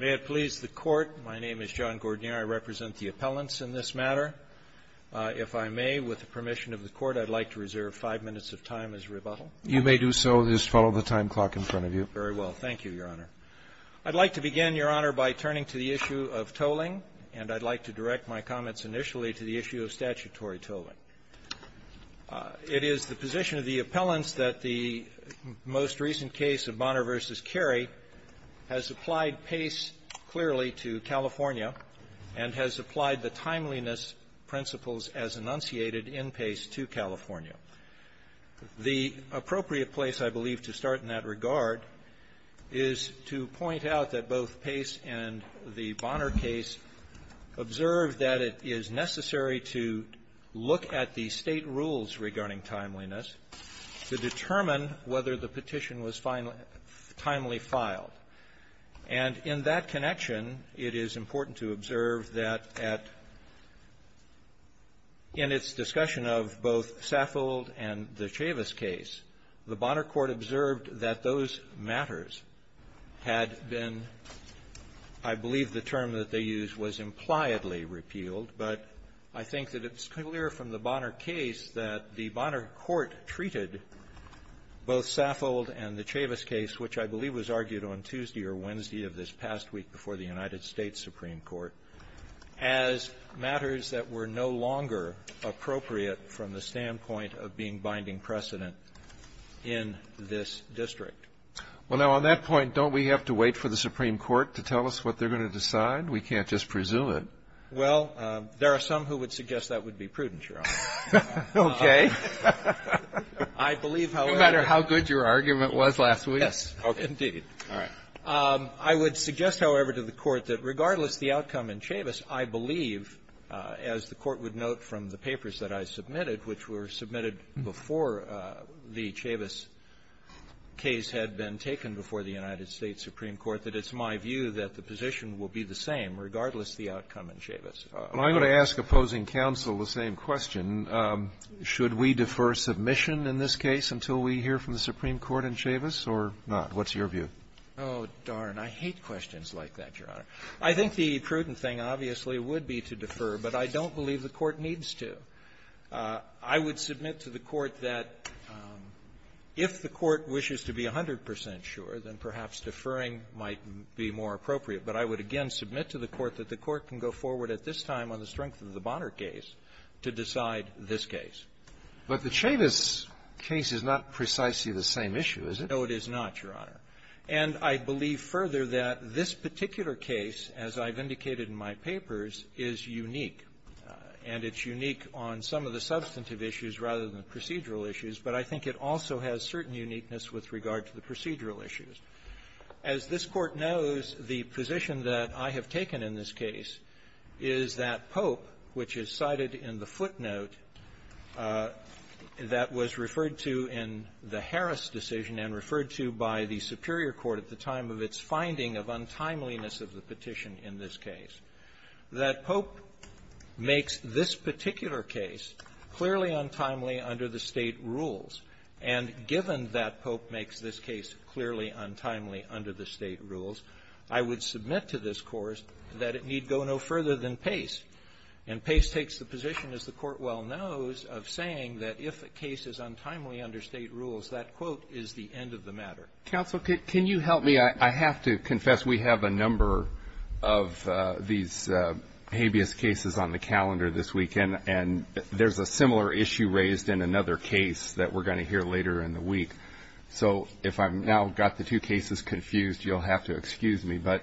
May it please the Court, my name is John Gordnier. I represent the appellants in this matter. If I may, with the permission of the Court, I'd like to reserve five minutes of time as rebuttal. You may do so. Just follow the time clock in front of you. Very well. Thank you, Your Honor. I'd like to begin, Your Honor, by turning to the issue of tolling. And I'd like to direct my comments initially to the issue of statutory tolling. It is the position of the appellants that the most recent case of Bonner v. Carey has applied Pace clearly to California and has applied the timeliness principles as enunciated in Pace to California. The appropriate place, I believe, to start in that regard is to point out that both the State rules regarding timeliness to determine whether the petition was timely filed. And in that connection, it is important to observe that at its discussion of both Saffold and the Chavis case, the Bonner Court observed that those matters had been – I believe the term that they used was impliedly repealed, but I think that it's clear from the Bonner case that the Bonner Court treated both Saffold and the Chavis case, which I believe was argued on Tuesday or Wednesday of this past week before the United States Supreme Court, as matters that were no longer appropriate from the standpoint of being binding precedent in this district. Well, now, on that point, don't we have to wait for the Supreme Court to tell us what they're going to decide? We can't just presume it. Well, there are some who would suggest that would be prudent, Your Honor. Okay. I believe, however – No matter how good your argument was last week. Yes. Indeed. All right. I would suggest, however, to the Court that regardless of the outcome in Chavis, I believe, as the Court would note from the papers that I submitted, which were submitted before the Chavis case had been taken before the United States Supreme Court, that it's my view that the position will be the same regardless of the outcome in Chavis. Well, I'm going to ask opposing counsel the same question. Should we defer submission in this case until we hear from the Supreme Court in Chavis or not? What's your view? Oh, darn. I hate questions like that, Your Honor. I think the prudent thing, obviously, would be to defer, but I don't believe the Court needs to. I would submit to the Court that if the Court wishes to be 100 percent sure, then perhaps deferring might be more appropriate, but I would again submit to the Court that the Court can go forward at this time on the strength of the Bonner case to decide this case. But the Chavis case is not precisely the same issue, is it? No, it is not, Your Honor. And I believe further that this particular case, as I've indicated in my papers, is unique, and it's unique on some of the substantive issues rather than the procedural issues, but I think it also has certain uniqueness with regard to the procedural issues. As this Court knows, the position that I have taken in this case is that Pope, which is cited in the footnote that was referred to in the Harris decision and referred to by the superior court at the time of its finding of untimeliness of the petition in this case, that Pope makes this particular case clearly untimely under the State rules, and given that Pope makes this case clearly untimely under the State rules, I would submit to this Court that it need go no further than Pace. And Pace takes the position, as the Court well knows, of saying that if a case is untimely under State rules, that, quote, is the end of the matter. Counsel, can you help me? I have to confess we have a number of these habeas cases on the calendar this weekend, and there's a similar issue raised in another case that we're going to hear later in the week. So if I've now got the two cases confused, you'll have to excuse me. But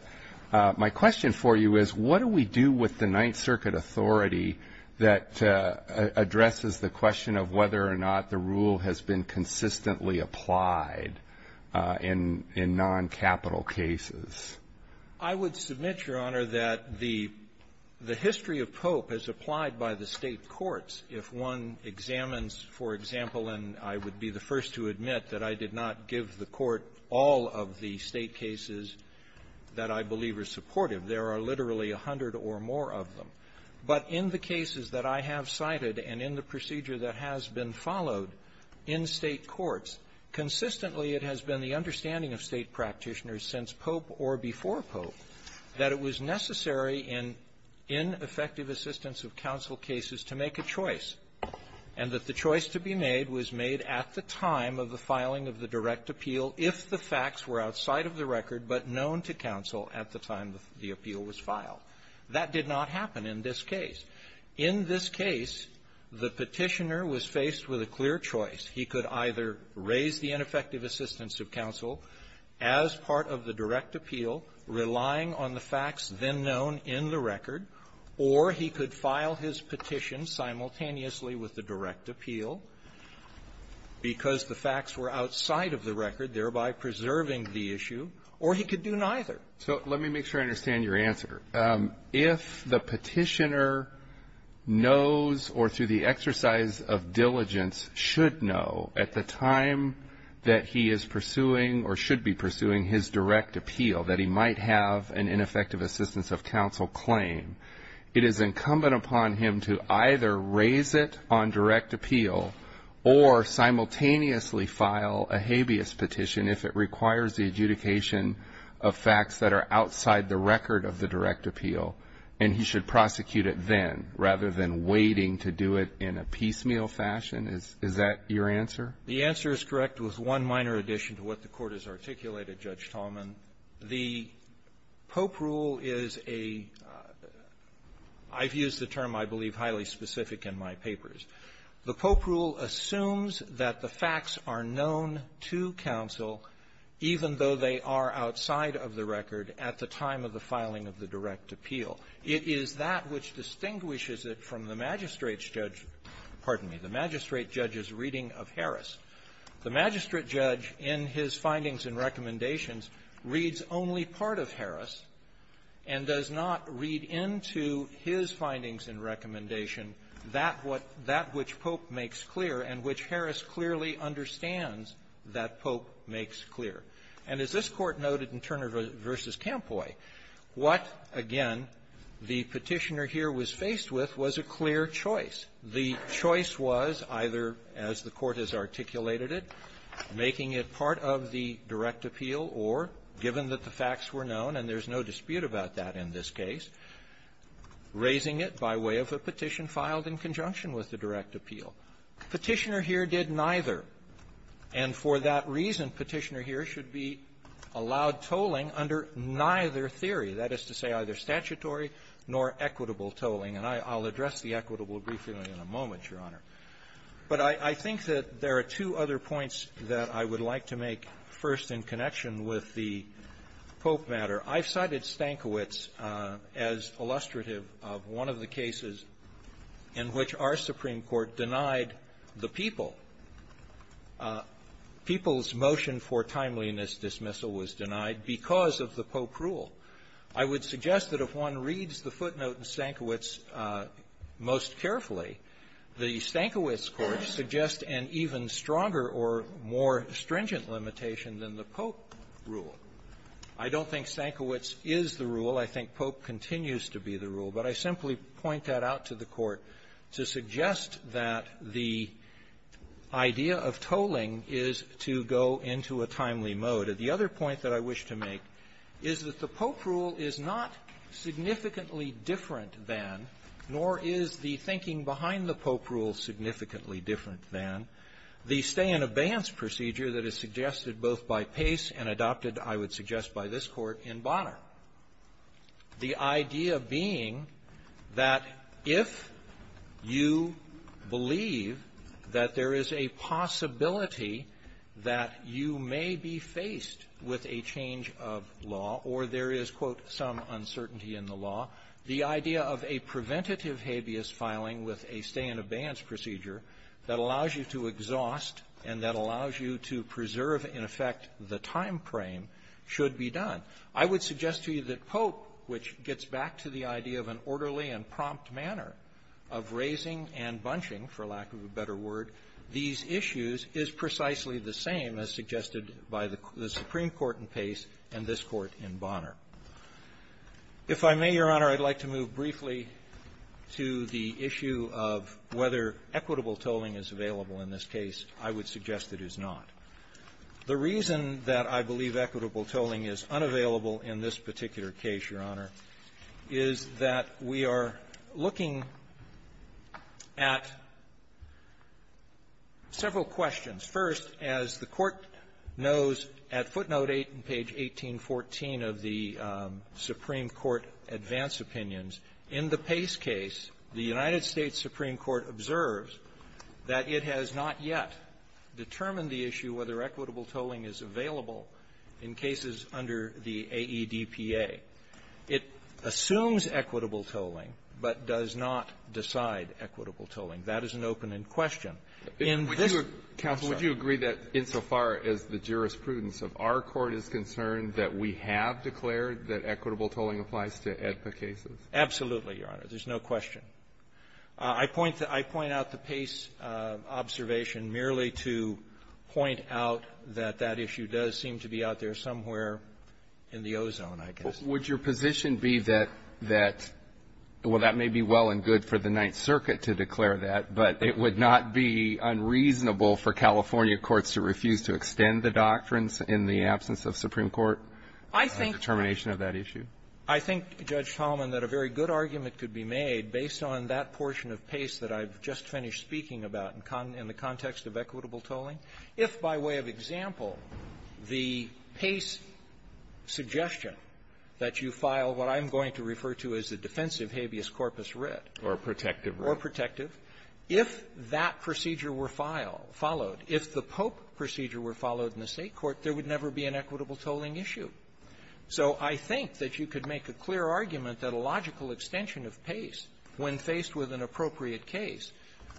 my question for you is, what do we do with the Ninth Circuit authority that addresses the question of whether or not the rule has been consistently applied in noncapital cases? I would submit, Your Honor, that the history of Pope is applied by the State courts. If one examines, for example, and I would be the first to admit that I did not give the Court all of the State cases that I believe are supportive, there are literally a hundred or more of them. But in the cases that I have cited and in the procedure that has been followed in State courts, consistently it has been the understanding of State practitioners since Pope or before Pope that it was necessary in ineffective assistance of counsel cases to make a choice, and that the choice to be made was made at the time of the filing of the direct appeal if the facts were outside of the record but known to counsel at the time the appeal was filed. That did not happen in this case. In this case, the Petitioner was faced with a clear choice. He could either raise the ineffective assistance of counsel as part of the direct appeal, relying on the facts then known in the record, or he could file his petition simultaneously with the direct appeal because the facts were outside of the record, thereby preserving the issue, or he could do neither. So let me make sure I understand your answer. If the Petitioner knows or, through the exercise of diligence, should know at the time that he is pursuing or should be pursuing his direct appeal that he might have an ineffective assistance of counsel claim, it is incumbent upon him to either raise it on direct appeal or simultaneously file a habeas petition if it requires the adjudication of facts that are outside the record in a piecemeal fashion? Is that your answer? The answer is correct with one minor addition to what the Court has articulated, Judge Tallman. The Pope rule is a — I've used the term, I believe, highly specific in my papers. The Pope rule assumes that the facts are known to counsel even though they are outside of the record at the time of the filing of the direct appeal. It is that which distinguishes it from the magistrate's judge — pardon me, the magistrate judge's reading of Harris. The magistrate judge in his findings and recommendations reads only part of Harris and does not read into his findings and recommendation that which Pope makes clear and which Harris clearly understands that Pope makes clear. And as this Court noted in Turner v. Campoy, what, again, the Petitioner here was faced with was a clear choice. The choice was either, as the Court has articulated it, making it part of the direct appeal or, given that the facts were known, and there's no dispute about that in this case, raising it by way of a petition filed in conjunction with the direct appeal. Petitioner here did neither, and for that reason, Petitioner here should be allowed tolling under neither theory, that is to say, either statutory nor equitable tolling. And I'll address the equitable briefly in a moment, Your Honor. But I think that there are two other points that I would like to make first in connection with the Pope matter. I've cited Stankiewicz as illustrative of one of the cases in which our Supreme Court denied the people. People's motion for timeliness dismissal was denied because of the Pope rule. I would suggest that if one reads the footnote in Stankiewicz most carefully, the Stankiewicz court suggests an even stronger or more stringent limitation than the Pope rule. I don't think Stankiewicz is the rule. I think Pope continues to be the rule. But I simply point that out to the Court to suggest that the idea of tolling is to go into a timely mode. The other point that I wish to make is that the Pope rule is not significantly different than, nor is the thinking behind the Pope rule significantly different than, the stay-in-abeyance procedure that is suggested both by Pace and adopted, I would suggest, by this Court in Bonner, the idea being that if you believe that there is a possibility that you may be faced with a change of law or there is, quote, some uncertainty in the law, the idea of a preventative habeas filing with a stay-in-abeyance procedure that allows you to exhaust and that allows you to preserve, in effect, the time frame should be done. I would suggest to you that Pope, which gets back to the idea of an orderly and prompt manner of raising and bunching, for lack of a better word, these issues, is precisely the same as suggested by the Supreme Court in Pace and this Court in Bonner. If I may, Your Honor, I'd like to move briefly to the issue of whether equitable tolling is available in this case. I would suggest it is not. The reason that I believe equitable tolling is unavailable in this particular case, Your Honor, is that we are looking at several questions. First, as the Court knows, at footnote 8 in page 1814 of the Supreme Court advance opinions, in the Pace case, the United States Supreme Court observes that it has not yet determined the issue whether equitable tolling is available in cases under the AEDPA. It assumes equitable tolling but does not decide equitable tolling. That is an open-end question. In this case, Your Honor, there's no question. I point the – I point out the Pace observation merely to point out that that issue does seem to be out there somewhere in the ozone, I guess. Would your position be that that – well, that may be well and good for the Ninth Circuit to declare that, but it would not be in the AEDPA unreasonable for California courts to refuse to extend the doctrines in the absence of Supreme Court determination of that issue? I think, Judge Talman, that a very good argument could be made based on that portion of Pace that I've just finished speaking about in the context of equitable tolling. If, by way of example, the Pace suggestion that you file what I'm going to refer to as a defensive habeas corpus writ. Or a protective writ. Or protective. If that procedure were filed – followed, if the Pope procedure were followed in the State court, there would never be an equitable tolling issue. So I think that you could make a clear argument that a logical extension of Pace, when faced with an appropriate case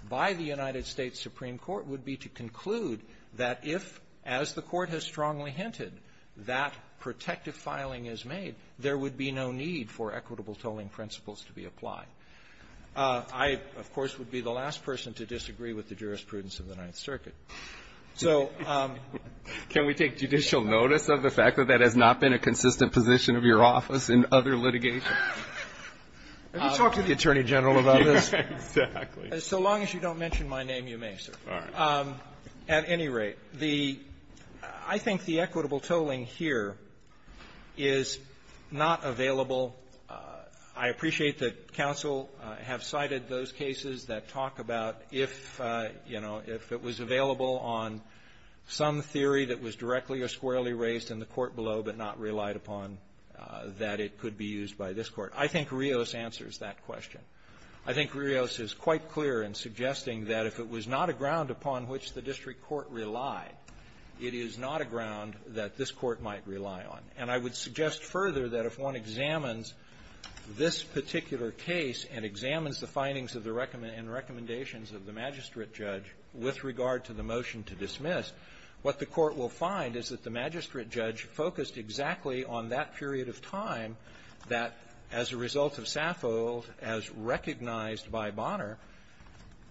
by the United States Supreme Court, would be to conclude that if, as the Court has strongly hinted, that protective filing is made, there would be no need for equitable tolling principles to be applied. I, of course, would be the last person to disagree with the jurisprudence of the Ninth Circuit. So – Can we take judicial notice of the fact that that has not been a consistent position of your office in other litigation? Have you talked to the Attorney General about this? Exactly. So long as you don't mention my name, you may, sir. All right. At any rate, the – I think the equitable tolling here is not available. I appreciate that counsel have cited those cases that talk about if, you know, if it was available on some theory that was directly or squarely raised in the court below but not relied upon, that it could be used by this Court. I think Rios answers that question. I think Rios is quite clear in suggesting that if it was not a ground upon which the district court relied, it is not a ground that this Court might rely on. And I would suggest further that if one examines this particular case and examines the findings and recommendations of the magistrate judge with regard to the motion to dismiss, what the Court will find is that the magistrate judge focused exactly on that period of time that, as a result of Saffold, as recognized by Bonner,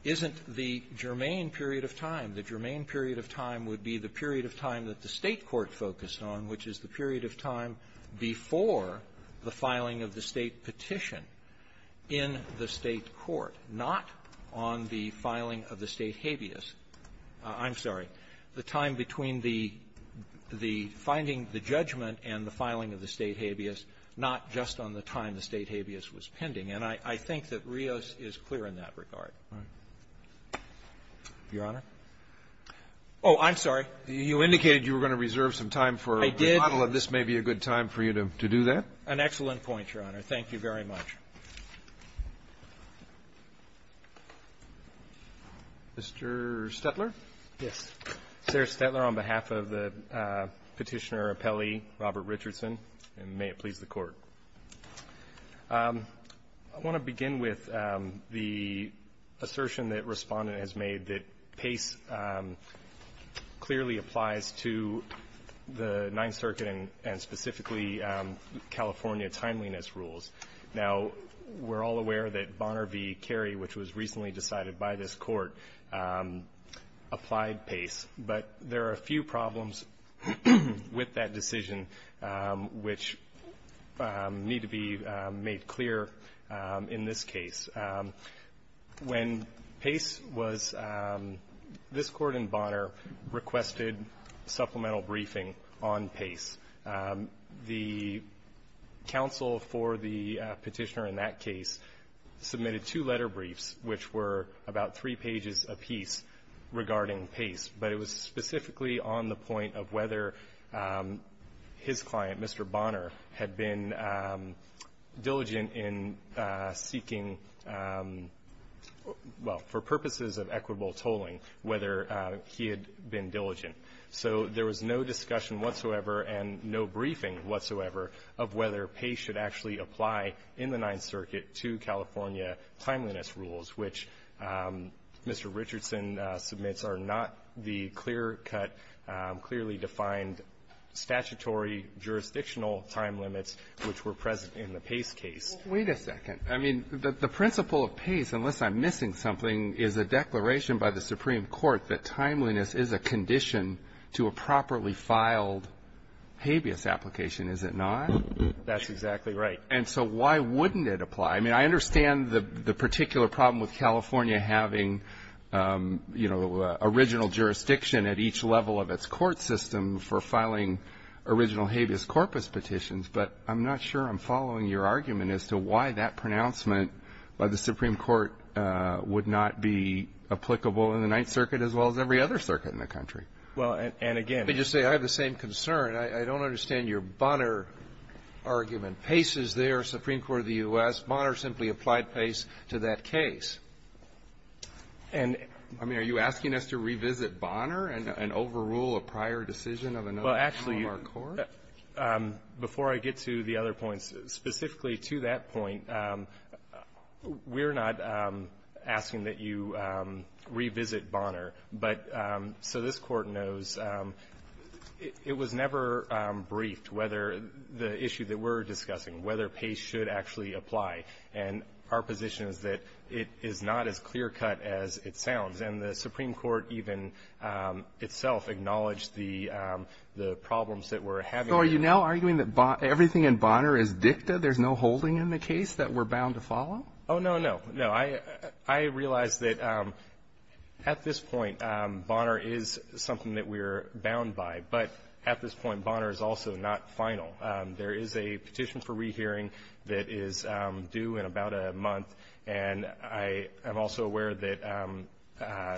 isn't the germane period of time. The germane period of time would be the period of time that the State court focused on, which is the period of time before the filing of the State petition in the State court, not on the filing of the State habeas. I'm sorry. The time between the finding, the judgment, and the filing of the State habeas, not just on the time the State habeas was pending. And I think that Rios is clear in that regard. Alitoso, your Honor? Oh, I'm sorry. You indicated you were going to reserve some time for a rebuttal, and this may be a good time for you to do that. An excellent point, Your Honor. Thank you very much. Mr. Stetler? Yes. Sir Stetler, on behalf of the Petitioner Appellee, Robert Richardson, and may it please the Court. I want to begin with the assertion that Respondent has made that Pace clearly applies to the Ninth Circuit and specifically California timeliness rules. Now, we're all aware that Bonner v. Carey, which was recently decided by this Court, applied Pace. But there are a few problems with that decision which need to be made clear in this case. When Pace was — this Court in Bonner requested supplemental briefing on Pace. The counsel for the Petitioner in that case submitted two letter briefs, which were about three pages apiece regarding Pace. But it was specifically on the point of whether his client, Mr. Bonner, had been diligent in seeking — well, for purposes of equitable tolling, whether he had been diligent. So there was no discussion whatsoever and no briefing whatsoever of whether Pace should actually apply in the Ninth Circuit to California timeliness rules, which Mr. Richardson submits are not the clear-cut, clearly defined statutory jurisdictional time limits which were present in the Pace case. Wait a second. I mean, the principle of Pace, unless I'm missing something, is a declaration by the Supreme Court that timeliness is a condition to a properly filed habeas application, is it not? That's exactly right. And so why wouldn't it apply? I mean, I understand the particular problem with California having, you know, original jurisdiction at each level of its court system for filing original habeas corpus petitions, but I'm not sure I'm following your argument as to why that pronouncement by the Supreme Court would not be applicable in the Ninth Circuit as well as every other circuit in the country. Well, and again… Let me just say I have the same concern. I don't understand your Bonner argument. Pace is there, Supreme Court of the U.S. Bonner simply applied Pace to that case. And, I mean, are you asking us to revisit Bonner and overrule a prior decision of another court? Well, actually, before I get to the other points, specifically to that point, we're not asking that you revisit Bonner. But so this Court knows it was never briefed whether the issue that we're discussing, whether Pace should actually apply. And our position is that it is not as clear-cut as it sounds. And the Supreme Court even itself acknowledged the problems that we're having. So are you now arguing that everything in Bonner is dicta, there's no holding in the case that we're bound to follow? Oh, no, no. No. I realize that at this point, Bonner is something that we're bound by. But at this point, Bonner is also not final. There is a petition for rehearing that is due in about a month. And I am also aware that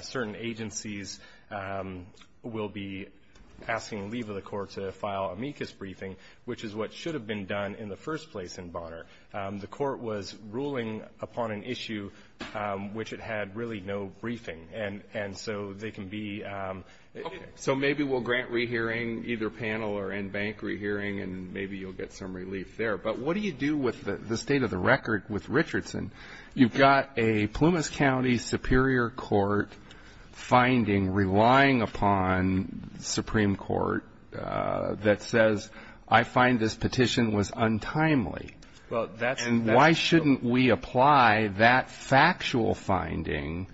certain agencies will be asking leave of the Court to file amicus briefing, which is what should have been done in the first place in Bonner. The Court was ruling upon an issue which it had really no briefing. And so they can be ‑‑ Okay. So maybe we'll grant rehearing, either panel or end bank rehearing, and maybe you'll get some relief there. But what do you do with the state of the record with Richardson? You've got a Plumas County Superior Court finding relying upon Supreme Court that says, I find this petition was untimely. And why shouldn't we apply that factual finding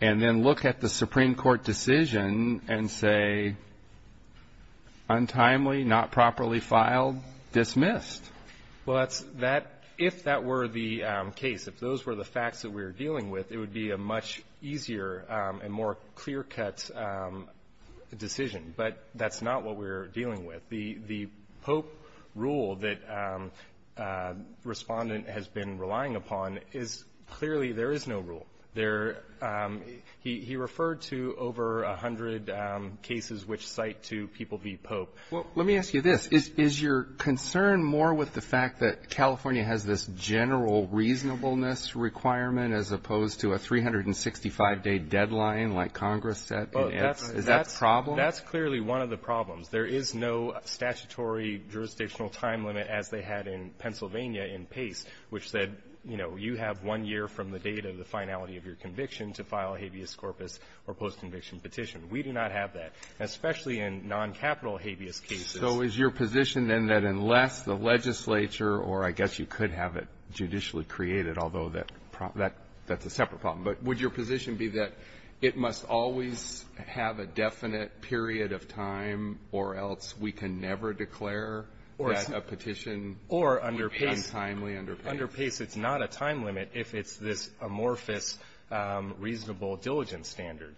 and then look at the Supreme Court decision and say, untimely, not properly filed, dismissed? Well, if that were the case, if those were the facts that we were dealing with, it would be a much easier and more clear‑cut decision. But that's not what we're dealing with. The Pope rule that Respondent has been relying upon is clearly there is no rule. There ‑‑ he referred to over 100 cases which cite to people v. Pope. Well, let me ask you this. Is your concern more with the fact that California has this general reasonableness requirement as opposed to a 365‑day deadline like Congress said? Is that a problem? That's clearly one of the problems. There is no statutory jurisdictional time limit as they had in Pennsylvania in PACE, which said, you know, you have one year from the date of the finality of your conviction to file a habeas corpus or post‑conviction petition. We do not have that, especially in non‑capital habeas cases. So is your position then that unless the legislature, or I guess you could have it judicially created, although that's a separate problem, but would your position be that it must always have a definite period of time or else we can never declare that a petition is untimely under PACE? Under PACE, it's not a time limit if it's this amorphous reasonable diligence standard.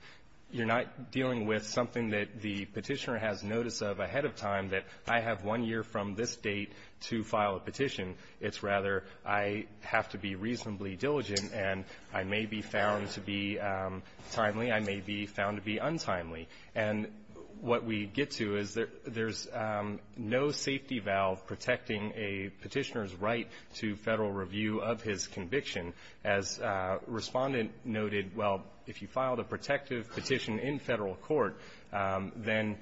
You're not dealing with something that the petitioner has notice of ahead of time that I have one year from this date to file a petition. It's rather I have to be reasonably diligent, and I may be found to be timely, I may be found to be untimely. And what we get to is there's no safety valve protecting a petitioner's right to Federal review of his conviction. As Respondent noted, well, if you filed a protective petition in Federal court, then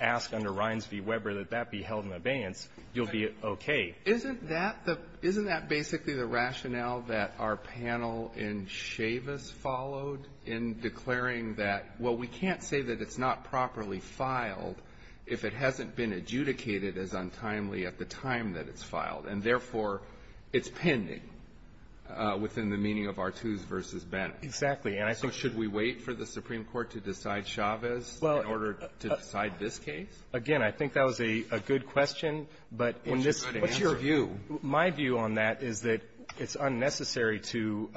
ask under Ryans v. Weber that that be held in abeyance. You'll be okay. Isn't that the — isn't that basically the rationale that our panel in Chavez followed in declaring that, well, we can't say that it's not properly filed if it hasn't been adjudicated as untimely at the time that it's filed, and therefore it's pending within the meaning of Artoos v. Bennett? Exactly. And I think the — So should we wait for the Supreme Court to decide Chavez in order to decide this case? Again, I think that was a good question, but in this — What's your view? My view on that is that it's unnecessary to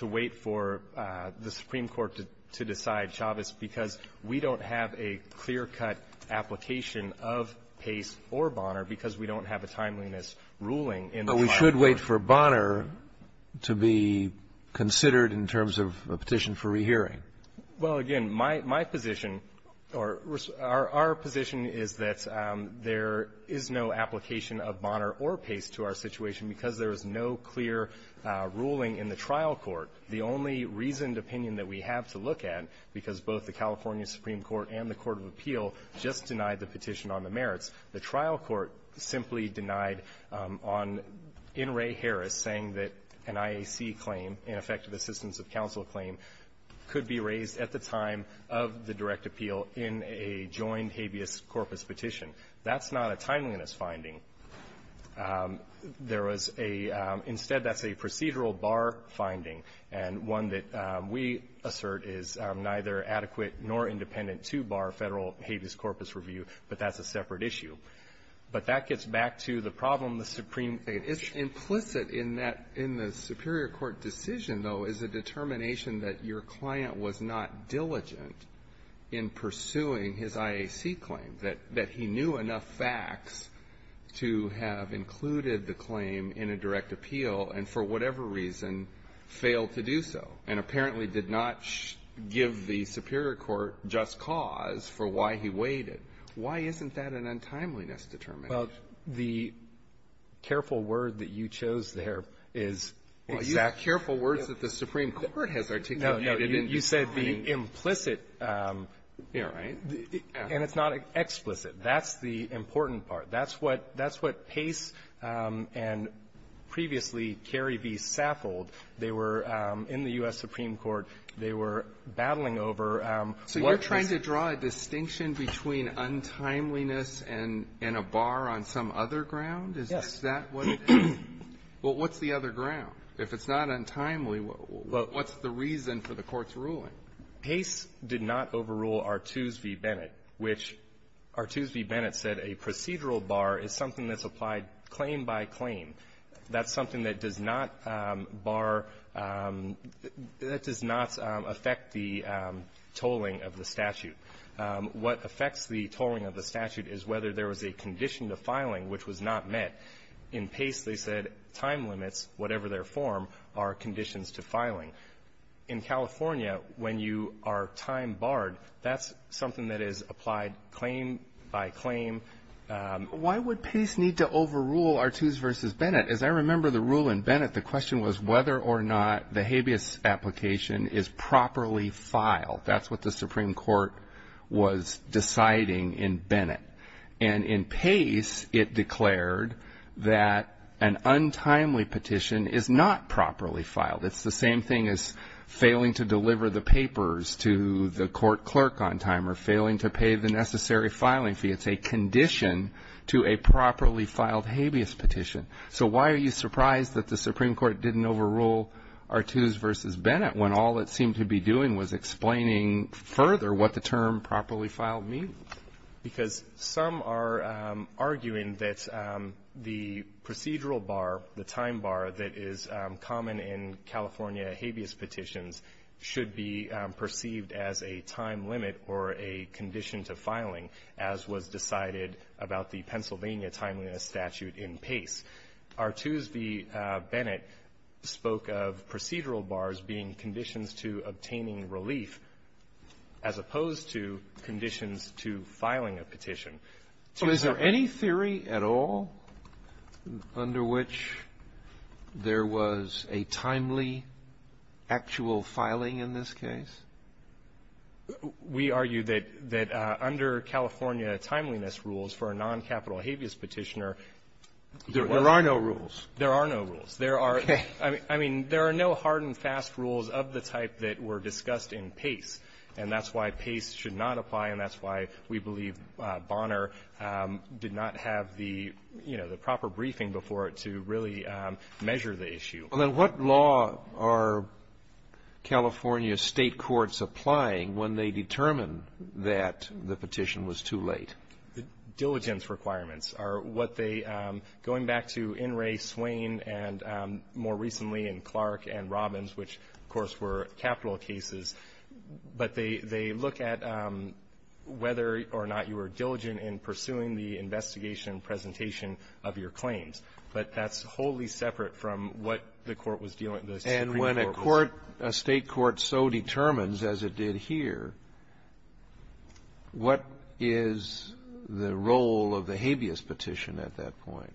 wait for the Supreme Court to decide Chavez because we don't have a clear-cut application of Pace or Bonner because we don't have a timeliness ruling in the file. But we should wait for Bonner to be considered in terms of a petition for rehearing. Well, again, my position or our position is that there is no application of Bonner or Pace to our situation because there is no clear ruling in the trial court. The only reasoned opinion that we have to look at, because both the California Supreme Court and the court of appeal just denied the petition on the merits, the trial court simply denied on — in Ray Harris saying that an IAC claim, ineffective assistance of counsel claim, could be raised at the time of the direct appeal in a joined habeas corpus petition. That's not a timeliness finding. There was a — instead, that's a procedural bar finding, and one that we assert is neither adequate nor independent to bar federal habeas corpus review, but that's a separate issue. But that gets back to the problem the Supreme — It's implicit in that — in the Superior Court decision, though, is a determination that your client was not diligent in pursuing his IAC claim, that he knew enough facts to have included the claim in a direct appeal and for whatever reason failed to do so, and apparently did not give the Superior Court just cause for why he waited. Why isn't that an untimeliness determination? Well, the careful word that you chose there is — Exactly. Careful words that the Supreme Court has articulated. No, no. You said the implicit. You're right. And it's not explicit. That's the important part. That's what — that's what Pace and previously Carey v. Saffold, they were — in the U.S. Supreme Court, they were battling over what this — So you're trying to draw a distinction between untimeliness and a bar on some other ground? Is that what it is? Well, what's the other ground? If it's not untimely, what's the reason for the Court's ruling? Pace did not overrule Artoos v. Bennett, which Artoos v. Bennett said a procedural bar is something that's applied claim by claim. That's something that does not bar — that does not affect the tolling of the statute. What affects the tolling of the statute is whether there was a condition to filing which was not met. In Pace, they said time limits, whatever their form, are conditions to filing. In California, when you are time barred, that's something that is applied claim by claim. Why would Pace need to overrule Artoos v. Bennett? As I remember the rule in Bennett, the question was whether or not the habeas application is properly filed. That's what the Supreme Court was deciding in Bennett. And in Pace, it declared that an untimely petition is not properly filed. It's the same thing as failing to deliver the papers to the court clerk on time or failing to pay the necessary filing fee. It's a condition to a properly filed habeas petition. So why are you surprised that the Supreme Court didn't overrule Artoos v. Bennett when all it seemed to be doing was explaining further what the term properly filed means? Because some are arguing that the procedural bar, the time bar that is common in California habeas petitions, should be perceived as a time limit or a condition to filing, as was decided about the Pennsylvania time limit statute in Pace. Artoos v. Bennett spoke of procedural bars being conditions to obtaining relief as opposed to conditions to filing a petition. So is there any theory at all under which there was a timely actual filing in this case? We argue that under California timeliness rules for a non-capital habeas petitioner There are no rules. There are no rules. of the type that were discussed in Pace. And that's why Pace should not apply, and that's why we believe Bonner did not have the, you know, the proper briefing before it to really measure the issue. Well, then what law are California State courts applying when they determine that the petition was too late? Diligence requirements are what they, going back to In re, Swain, and more recently in Clark and Robbins, which, of course, were capital cases. But they look at whether or not you were diligent in pursuing the investigation and presentation of your claims. But that's wholly separate from what the Court was dealing with. And when a court, a State court so determines, as it did here, what is the role of the habeas petition at that point?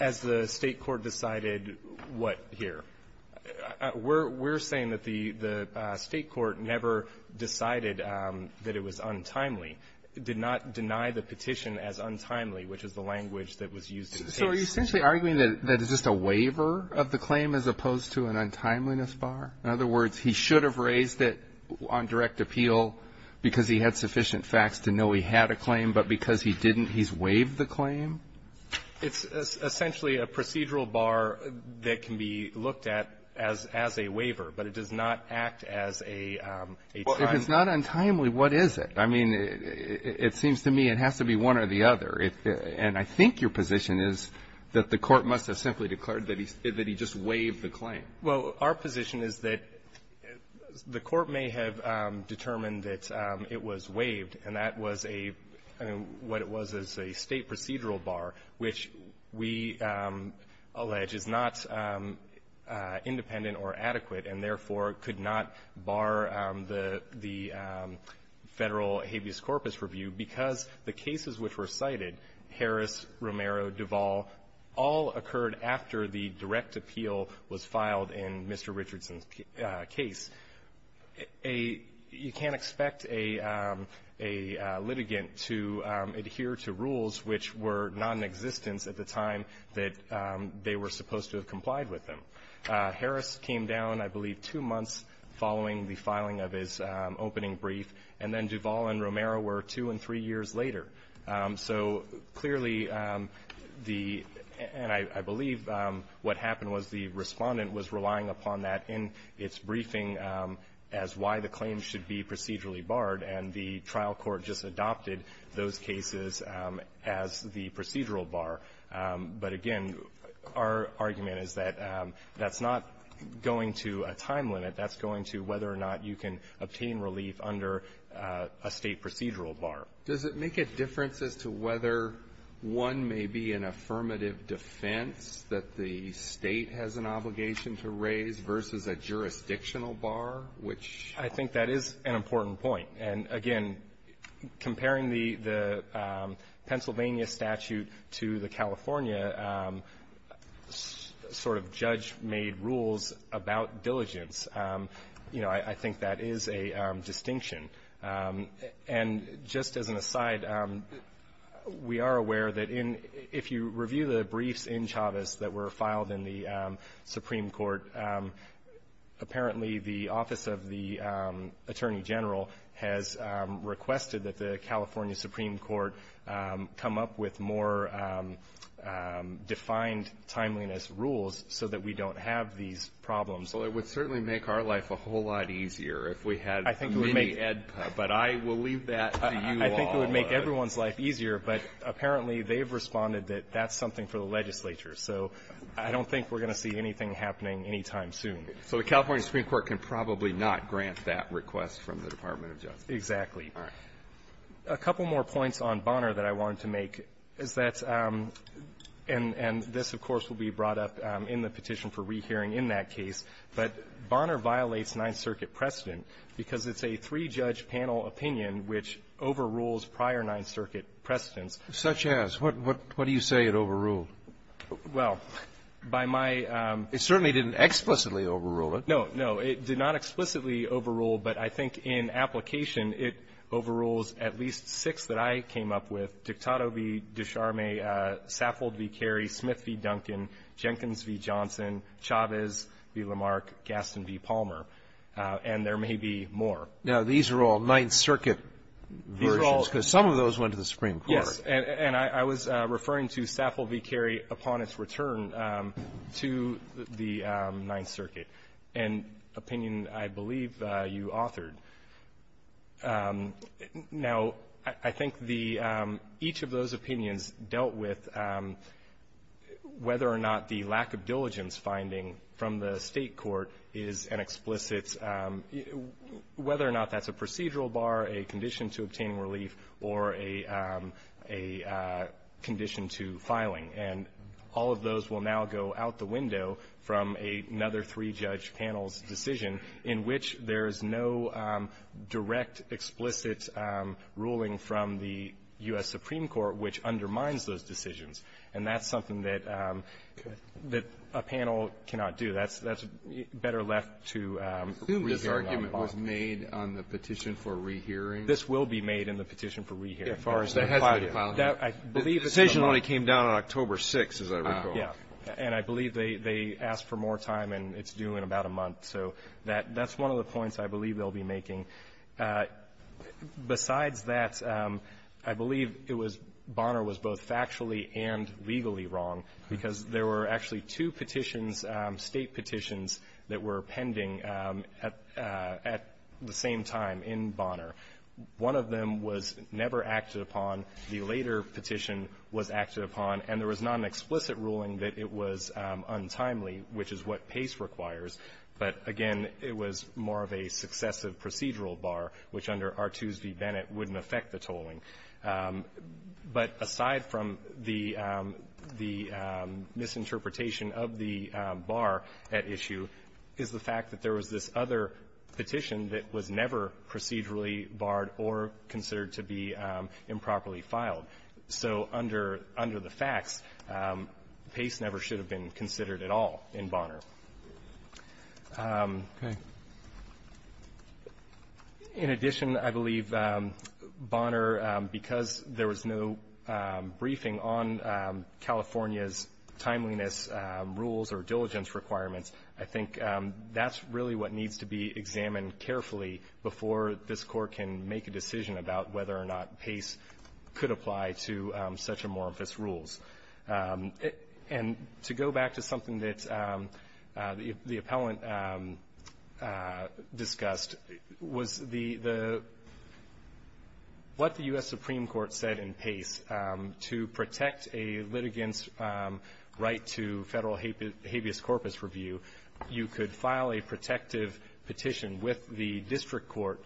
As the State court decided what here? We're saying that the State court never decided that it was untimely. It did not deny the petition as untimely, which is the language that was used in Pace. So are you essentially arguing that it's just a waiver of the claim as opposed to an untimeliness bar? In other words, he should have raised it on direct appeal because he had sufficient facts to know he had a claim, but because he didn't, he's waived the claim? It's essentially a procedural bar that can be looked at as a waiver, but it does not act as a time. Well, if it's not untimely, what is it? I mean, it seems to me it has to be one or the other. And I think your position is that the Court must have simply declared that he just waived the claim. Well, our position is that the Court may have determined that it was waived, and that was a what it was as a State procedural bar, which we allege is not independent or adequate and, therefore, could not bar the Federal habeas corpus review because the cases which were cited, Harris, Romero, Duvall, all occurred after the direct appeal was filed in Mr. Richardson's case. You can't expect a litigant to adhere to rules which were not in existence at the time that they were supposed to have complied with them. Harris came down, I believe, two months following the filing of his opening brief, and then Duvall and Romero were two and three years later. So, clearly, and I believe what happened was the Respondent was relying upon that in its briefing as why the claim should be procedurally barred, and the trial court just adopted those cases as the procedural bar. But, again, our argument is that that's not going to a time limit. That's going to whether or not you can obtain relief under a State procedural bar. Does it make a difference as to whether one may be an affirmative defense that the other is a jurisdictional bar, which ---- I think that is an important point. And, again, comparing the Pennsylvania statute to the California sort of judge-made rules about diligence, you know, I think that is a distinction. And just as an aside, we are aware that if you review the briefs in Chavez that were issued, apparently the office of the Attorney General has requested that the California Supreme Court come up with more defined timeliness rules so that we don't have these problems. Well, it would certainly make our life a whole lot easier if we had mini-EDPA. But I will leave that to you all. I think it would make everyone's life easier, but apparently they have responded that that's something for the legislature. So I don't think we're going to see anything happening any time soon. So the California Supreme Court can probably not grant that request from the Department of Justice? Exactly. All right. A couple more points on Bonner that I wanted to make is that, and this, of course, will be brought up in the petition for rehearing in that case, but Bonner violates Ninth Circuit precedent because it's a three-judge panel opinion which overrules prior Ninth Circuit precedents. Such as? What do you say it overruled? Well, by my ---- It certainly didn't explicitly overrule it. No, no. It did not explicitly overrule, but I think in application, it overrules at least six that I came up with, Dictato v. de Charme, Saffold v. Carey, Smith v. Duncan, Jenkins v. Johnson, Chavez v. Lamarck, Gaston v. Palmer. And there may be more. Now, these are all Ninth Circuit versions because some of those went to the Supreme Court. Yes. And I was referring to Saffold v. Carey upon its return to the Ninth Circuit, an opinion I believe you authored. Now, I think the ---- each of those opinions dealt with whether or not the lack of diligence finding from the State court is an explicit ---- whether or not that's a procedural bar, a condition to obtaining relief, or a ---- a condition to filing. And all of those will now go out the window from another three-judge panel's decision in which there is no direct, explicit ruling from the U.S. Supreme Court which undermines those decisions. And that's something that a panel cannot do. That's better left to ---- Assume this argument was made on the petition for rehearing. This will be made in the petition for rehearing as far as they're filing it. It has to be filed. The decision only came down on October 6th, as I recall. And I believe they asked for more time, and it's due in about a month. So that's one of the points I believe they'll be making. Besides that, I believe it was ---- Bonner was both factually and legally wrong because there were actually two petitions, State petitions, that were pending at the same time in Bonner. One of them was never acted upon. The later petition was acted upon, and there was not an explicit ruling that it was untimely, which is what pace requires. But again, it was more of a successive procedural bar, which under Artuse v. Bennett wouldn't affect the tolling. But aside from the ---- the misinterpretation of the bar at issue is the fact that there was this other petition that was never procedurally barred or considered to be improperly filed. So under the facts, pace never should have been considered at all in Bonner. In addition, I believe Bonner, because there was no briefing on California's case, is really what needs to be examined carefully before this court can make a decision about whether or not pace could apply to such amorphous rules. And to go back to something that the appellant discussed, was the ---- what the U.S. Supreme Court said in pace to protect a litigant's right to federal habeas corpus review, you could file a protective petition with the district court,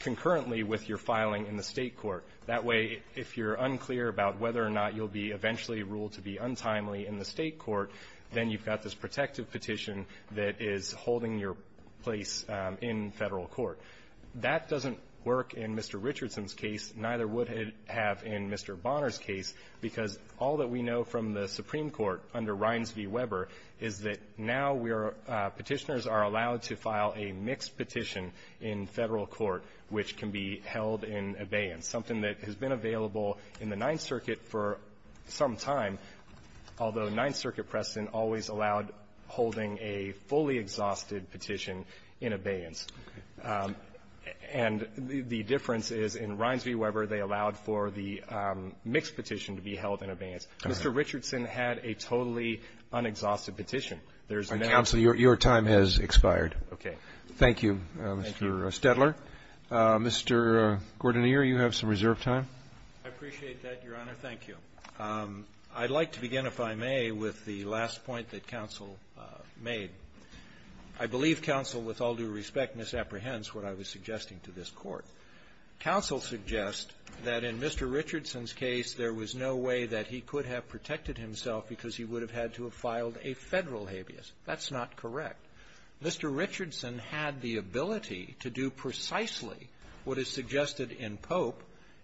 concurrently with your filing in the State court. That way, if you're unclear about whether or not you'll be eventually ruled to be untimely in the State court, then you've got this protective petition that is holding your place in Federal court. That doesn't work in Mr. Richardson's case, neither would it have in Mr. Bonner's case, because all that we know from the Supreme Court's case against Reines v. Weber is that now we are ---- Petitioners are allowed to file a mixed petition in Federal court which can be held in abeyance, something that has been available in the Ninth Circuit for some time, although Ninth Circuit precedent always allowed holding a fully exhausted petition in abeyance. And the difference is, in Reines v. Weber, they allowed for the mixed petition to be held in abeyance. Mr. Richardson had a totally unexhausted petition. There's no ---- Robertson, your time has expired. Okay. Thank you, Mr. Stedler. Thank you. Mr. Gordoneer, you have some reserve time. I appreciate that, Your Honor. Thank you. I'd like to begin, if I may, with the last point that counsel made. I believe counsel, with all due respect, misapprehends what I was suggesting to this Court. Counsel suggests that in Mr. Richardson's case, there was no way that he could have protected himself because he would have had to have filed a Federal habeas. That's not correct. Mr. Richardson had the ability to do precisely what is suggested in Pope,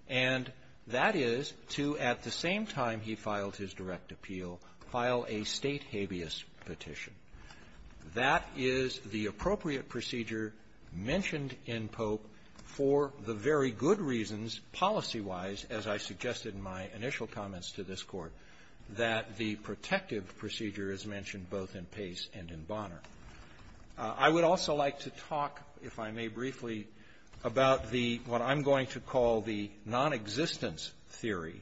and that is to, at the same time he filed his direct appeal, file a State habeas petition. That is the appropriate procedure mentioned in Pope for the very good reasons, policy-wise, as I suggested in my initial comments to this Court, that the protective procedure is mentioned both in Pace and in Bonner. I would also like to talk, if I may briefly, about the ---- what I'm going to call the nonexistence theory,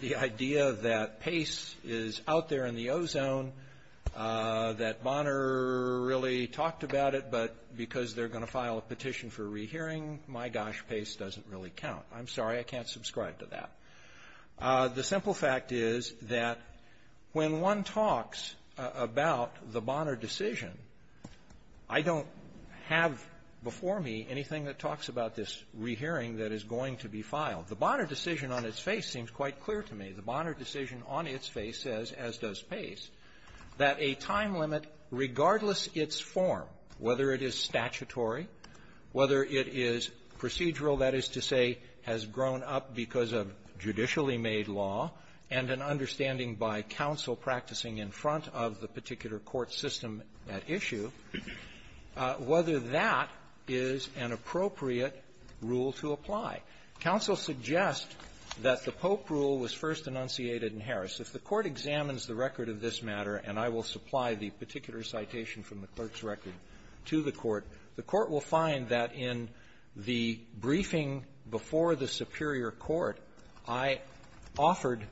the idea that Pace is out there in the ozone, that Bonner really talked about it, but because they're going to file a petition for rehearing, my gosh, Pace doesn't really count. I'm sorry. I can't subscribe to that. The simple fact is that when one talks about the Bonner decision, I don't have before me anything that talks about this rehearing that is going to be filed. The Bonner decision on its face seems quite clear to me. The Bonner decision on its face says, as does Pace, that a time limit, regardless its form, whether it is statutory, whether it is procedural, that is to say, has grown up because of judicially made law, and an understanding by counsel practicing in front of the particular court system at issue, whether that is an appropriate rule to apply. Counsel suggests that the Pope rule was first enunciated in Harris. If the Court examines the record of this matter, and I will supply the particular citation from the clerk's record to the Court, the Court will find that in the briefing before the Superior Court, I offered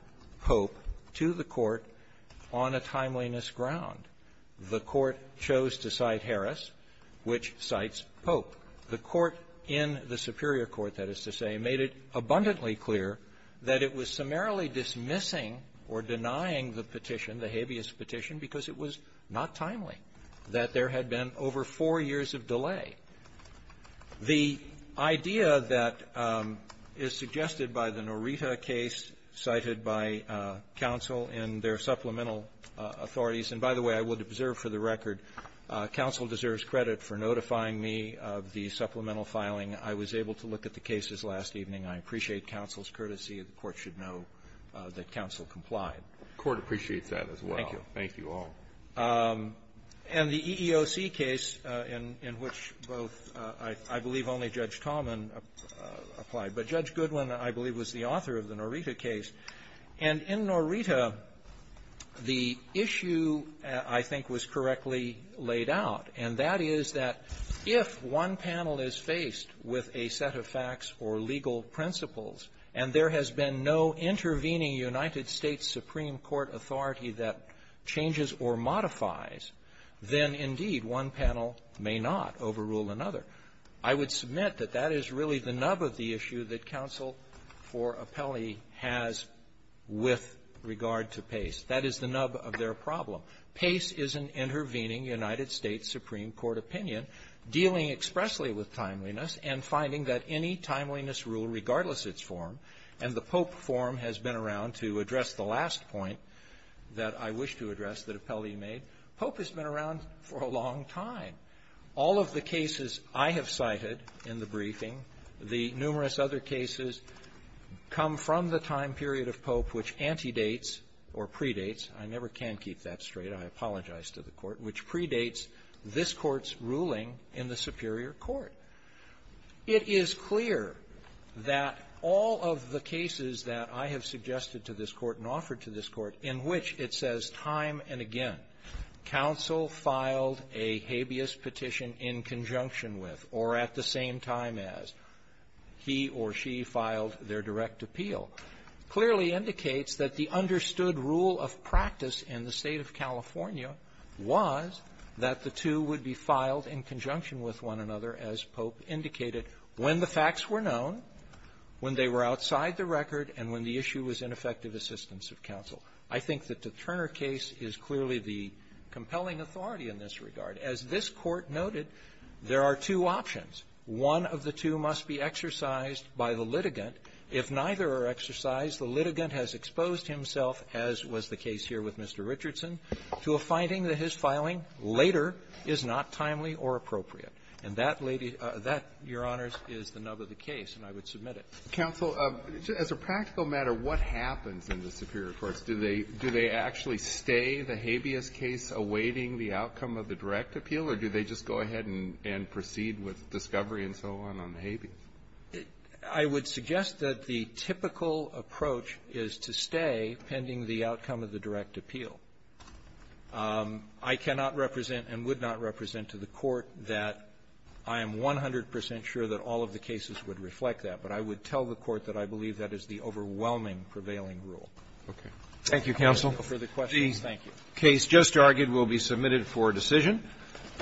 Pope to the Court on a timeliness ground. The Court chose to cite Harris, which cites Pope. The Court in the Superior Court, that is to say, made it abundantly clear that it was summarily dismissing or denying the petition, the habeas petition, because it was not timely, that there had been over four years of delay. The idea that is suggested by the Norita case cited by counsel in their supplemental authorities, and by the way, I would observe for the record, counsel deserves credit for notifying me of the supplemental filing. I was able to look at the cases last evening. I appreciate counsel's courtesy. The Court should know that counsel complied. The Court appreciates that as well. Thank you. Thank you all. And the EEOC case, in which both, I believe only Judge Talman applied, but Judge Goodwin, I believe, was the author of the Norita case. And in Norita, the issue, I think, was correctly laid out, and that is that if one panel is faced with a set of facts or legal principles, and there has been no intervening United States Supreme Court authority that changes or modifies, then, indeed, one panel may not overrule another. I would submit that that is really the nub of the issue that counsel for appellee has with regard to PACE. That is the nub of their problem. PACE is an intervening United States Supreme Court opinion dealing expressly with timeliness and finding that any timeliness rule, regardless its form, and the last point that I wish to address that appellee made, Pope has been around for a long time. All of the cases I have cited in the briefing, the numerous other cases come from the time period of Pope which antedates or predates, I never can keep that straight, I apologize to the Court, which predates this Court's ruling in the Superior Court. It is clear that all of the cases that I have suggested to this Court and offered to this Court in which it says time and again, counsel filed a habeas petition in conjunction with, or at the same time as, he or she filed their direct appeal, clearly indicates that the understood rule of practice in the State of California was that the two would be filed in conjunction with one another, as Pope indicated, when the facts were known, when they were outside the record, and when the issue was ineffective assistance of counsel. I think that the Turner case is clearly the compelling authority in this regard. As this Court noted, there are two options. One of the two must be exercised by the litigant. If neither are exercised, the litigant has exposed himself, as was the case here with Mr. Richardson, to a finding that his filing later is not timely or appropriate. And that, Lady --" that, Your Honors, is the nub of the case, and I would submit it. Alitoso, as a practical matter, what happens in the Superior Courts? Do they actually stay the habeas case awaiting the outcome of the direct appeal, or do they just go ahead and proceed with discovery and so on on the habeas? I would suggest that the typical approach is to stay pending the outcome of the direct appeal. I cannot represent and would not represent to the Court that I am 100 percent sure that all of the cases would reflect that. But I would tell the Court that I believe that is the overwhelming prevailing rule. Okay. Thank you, counsel. If there are no further questions, thank you. The case just argued will be submitted for decision.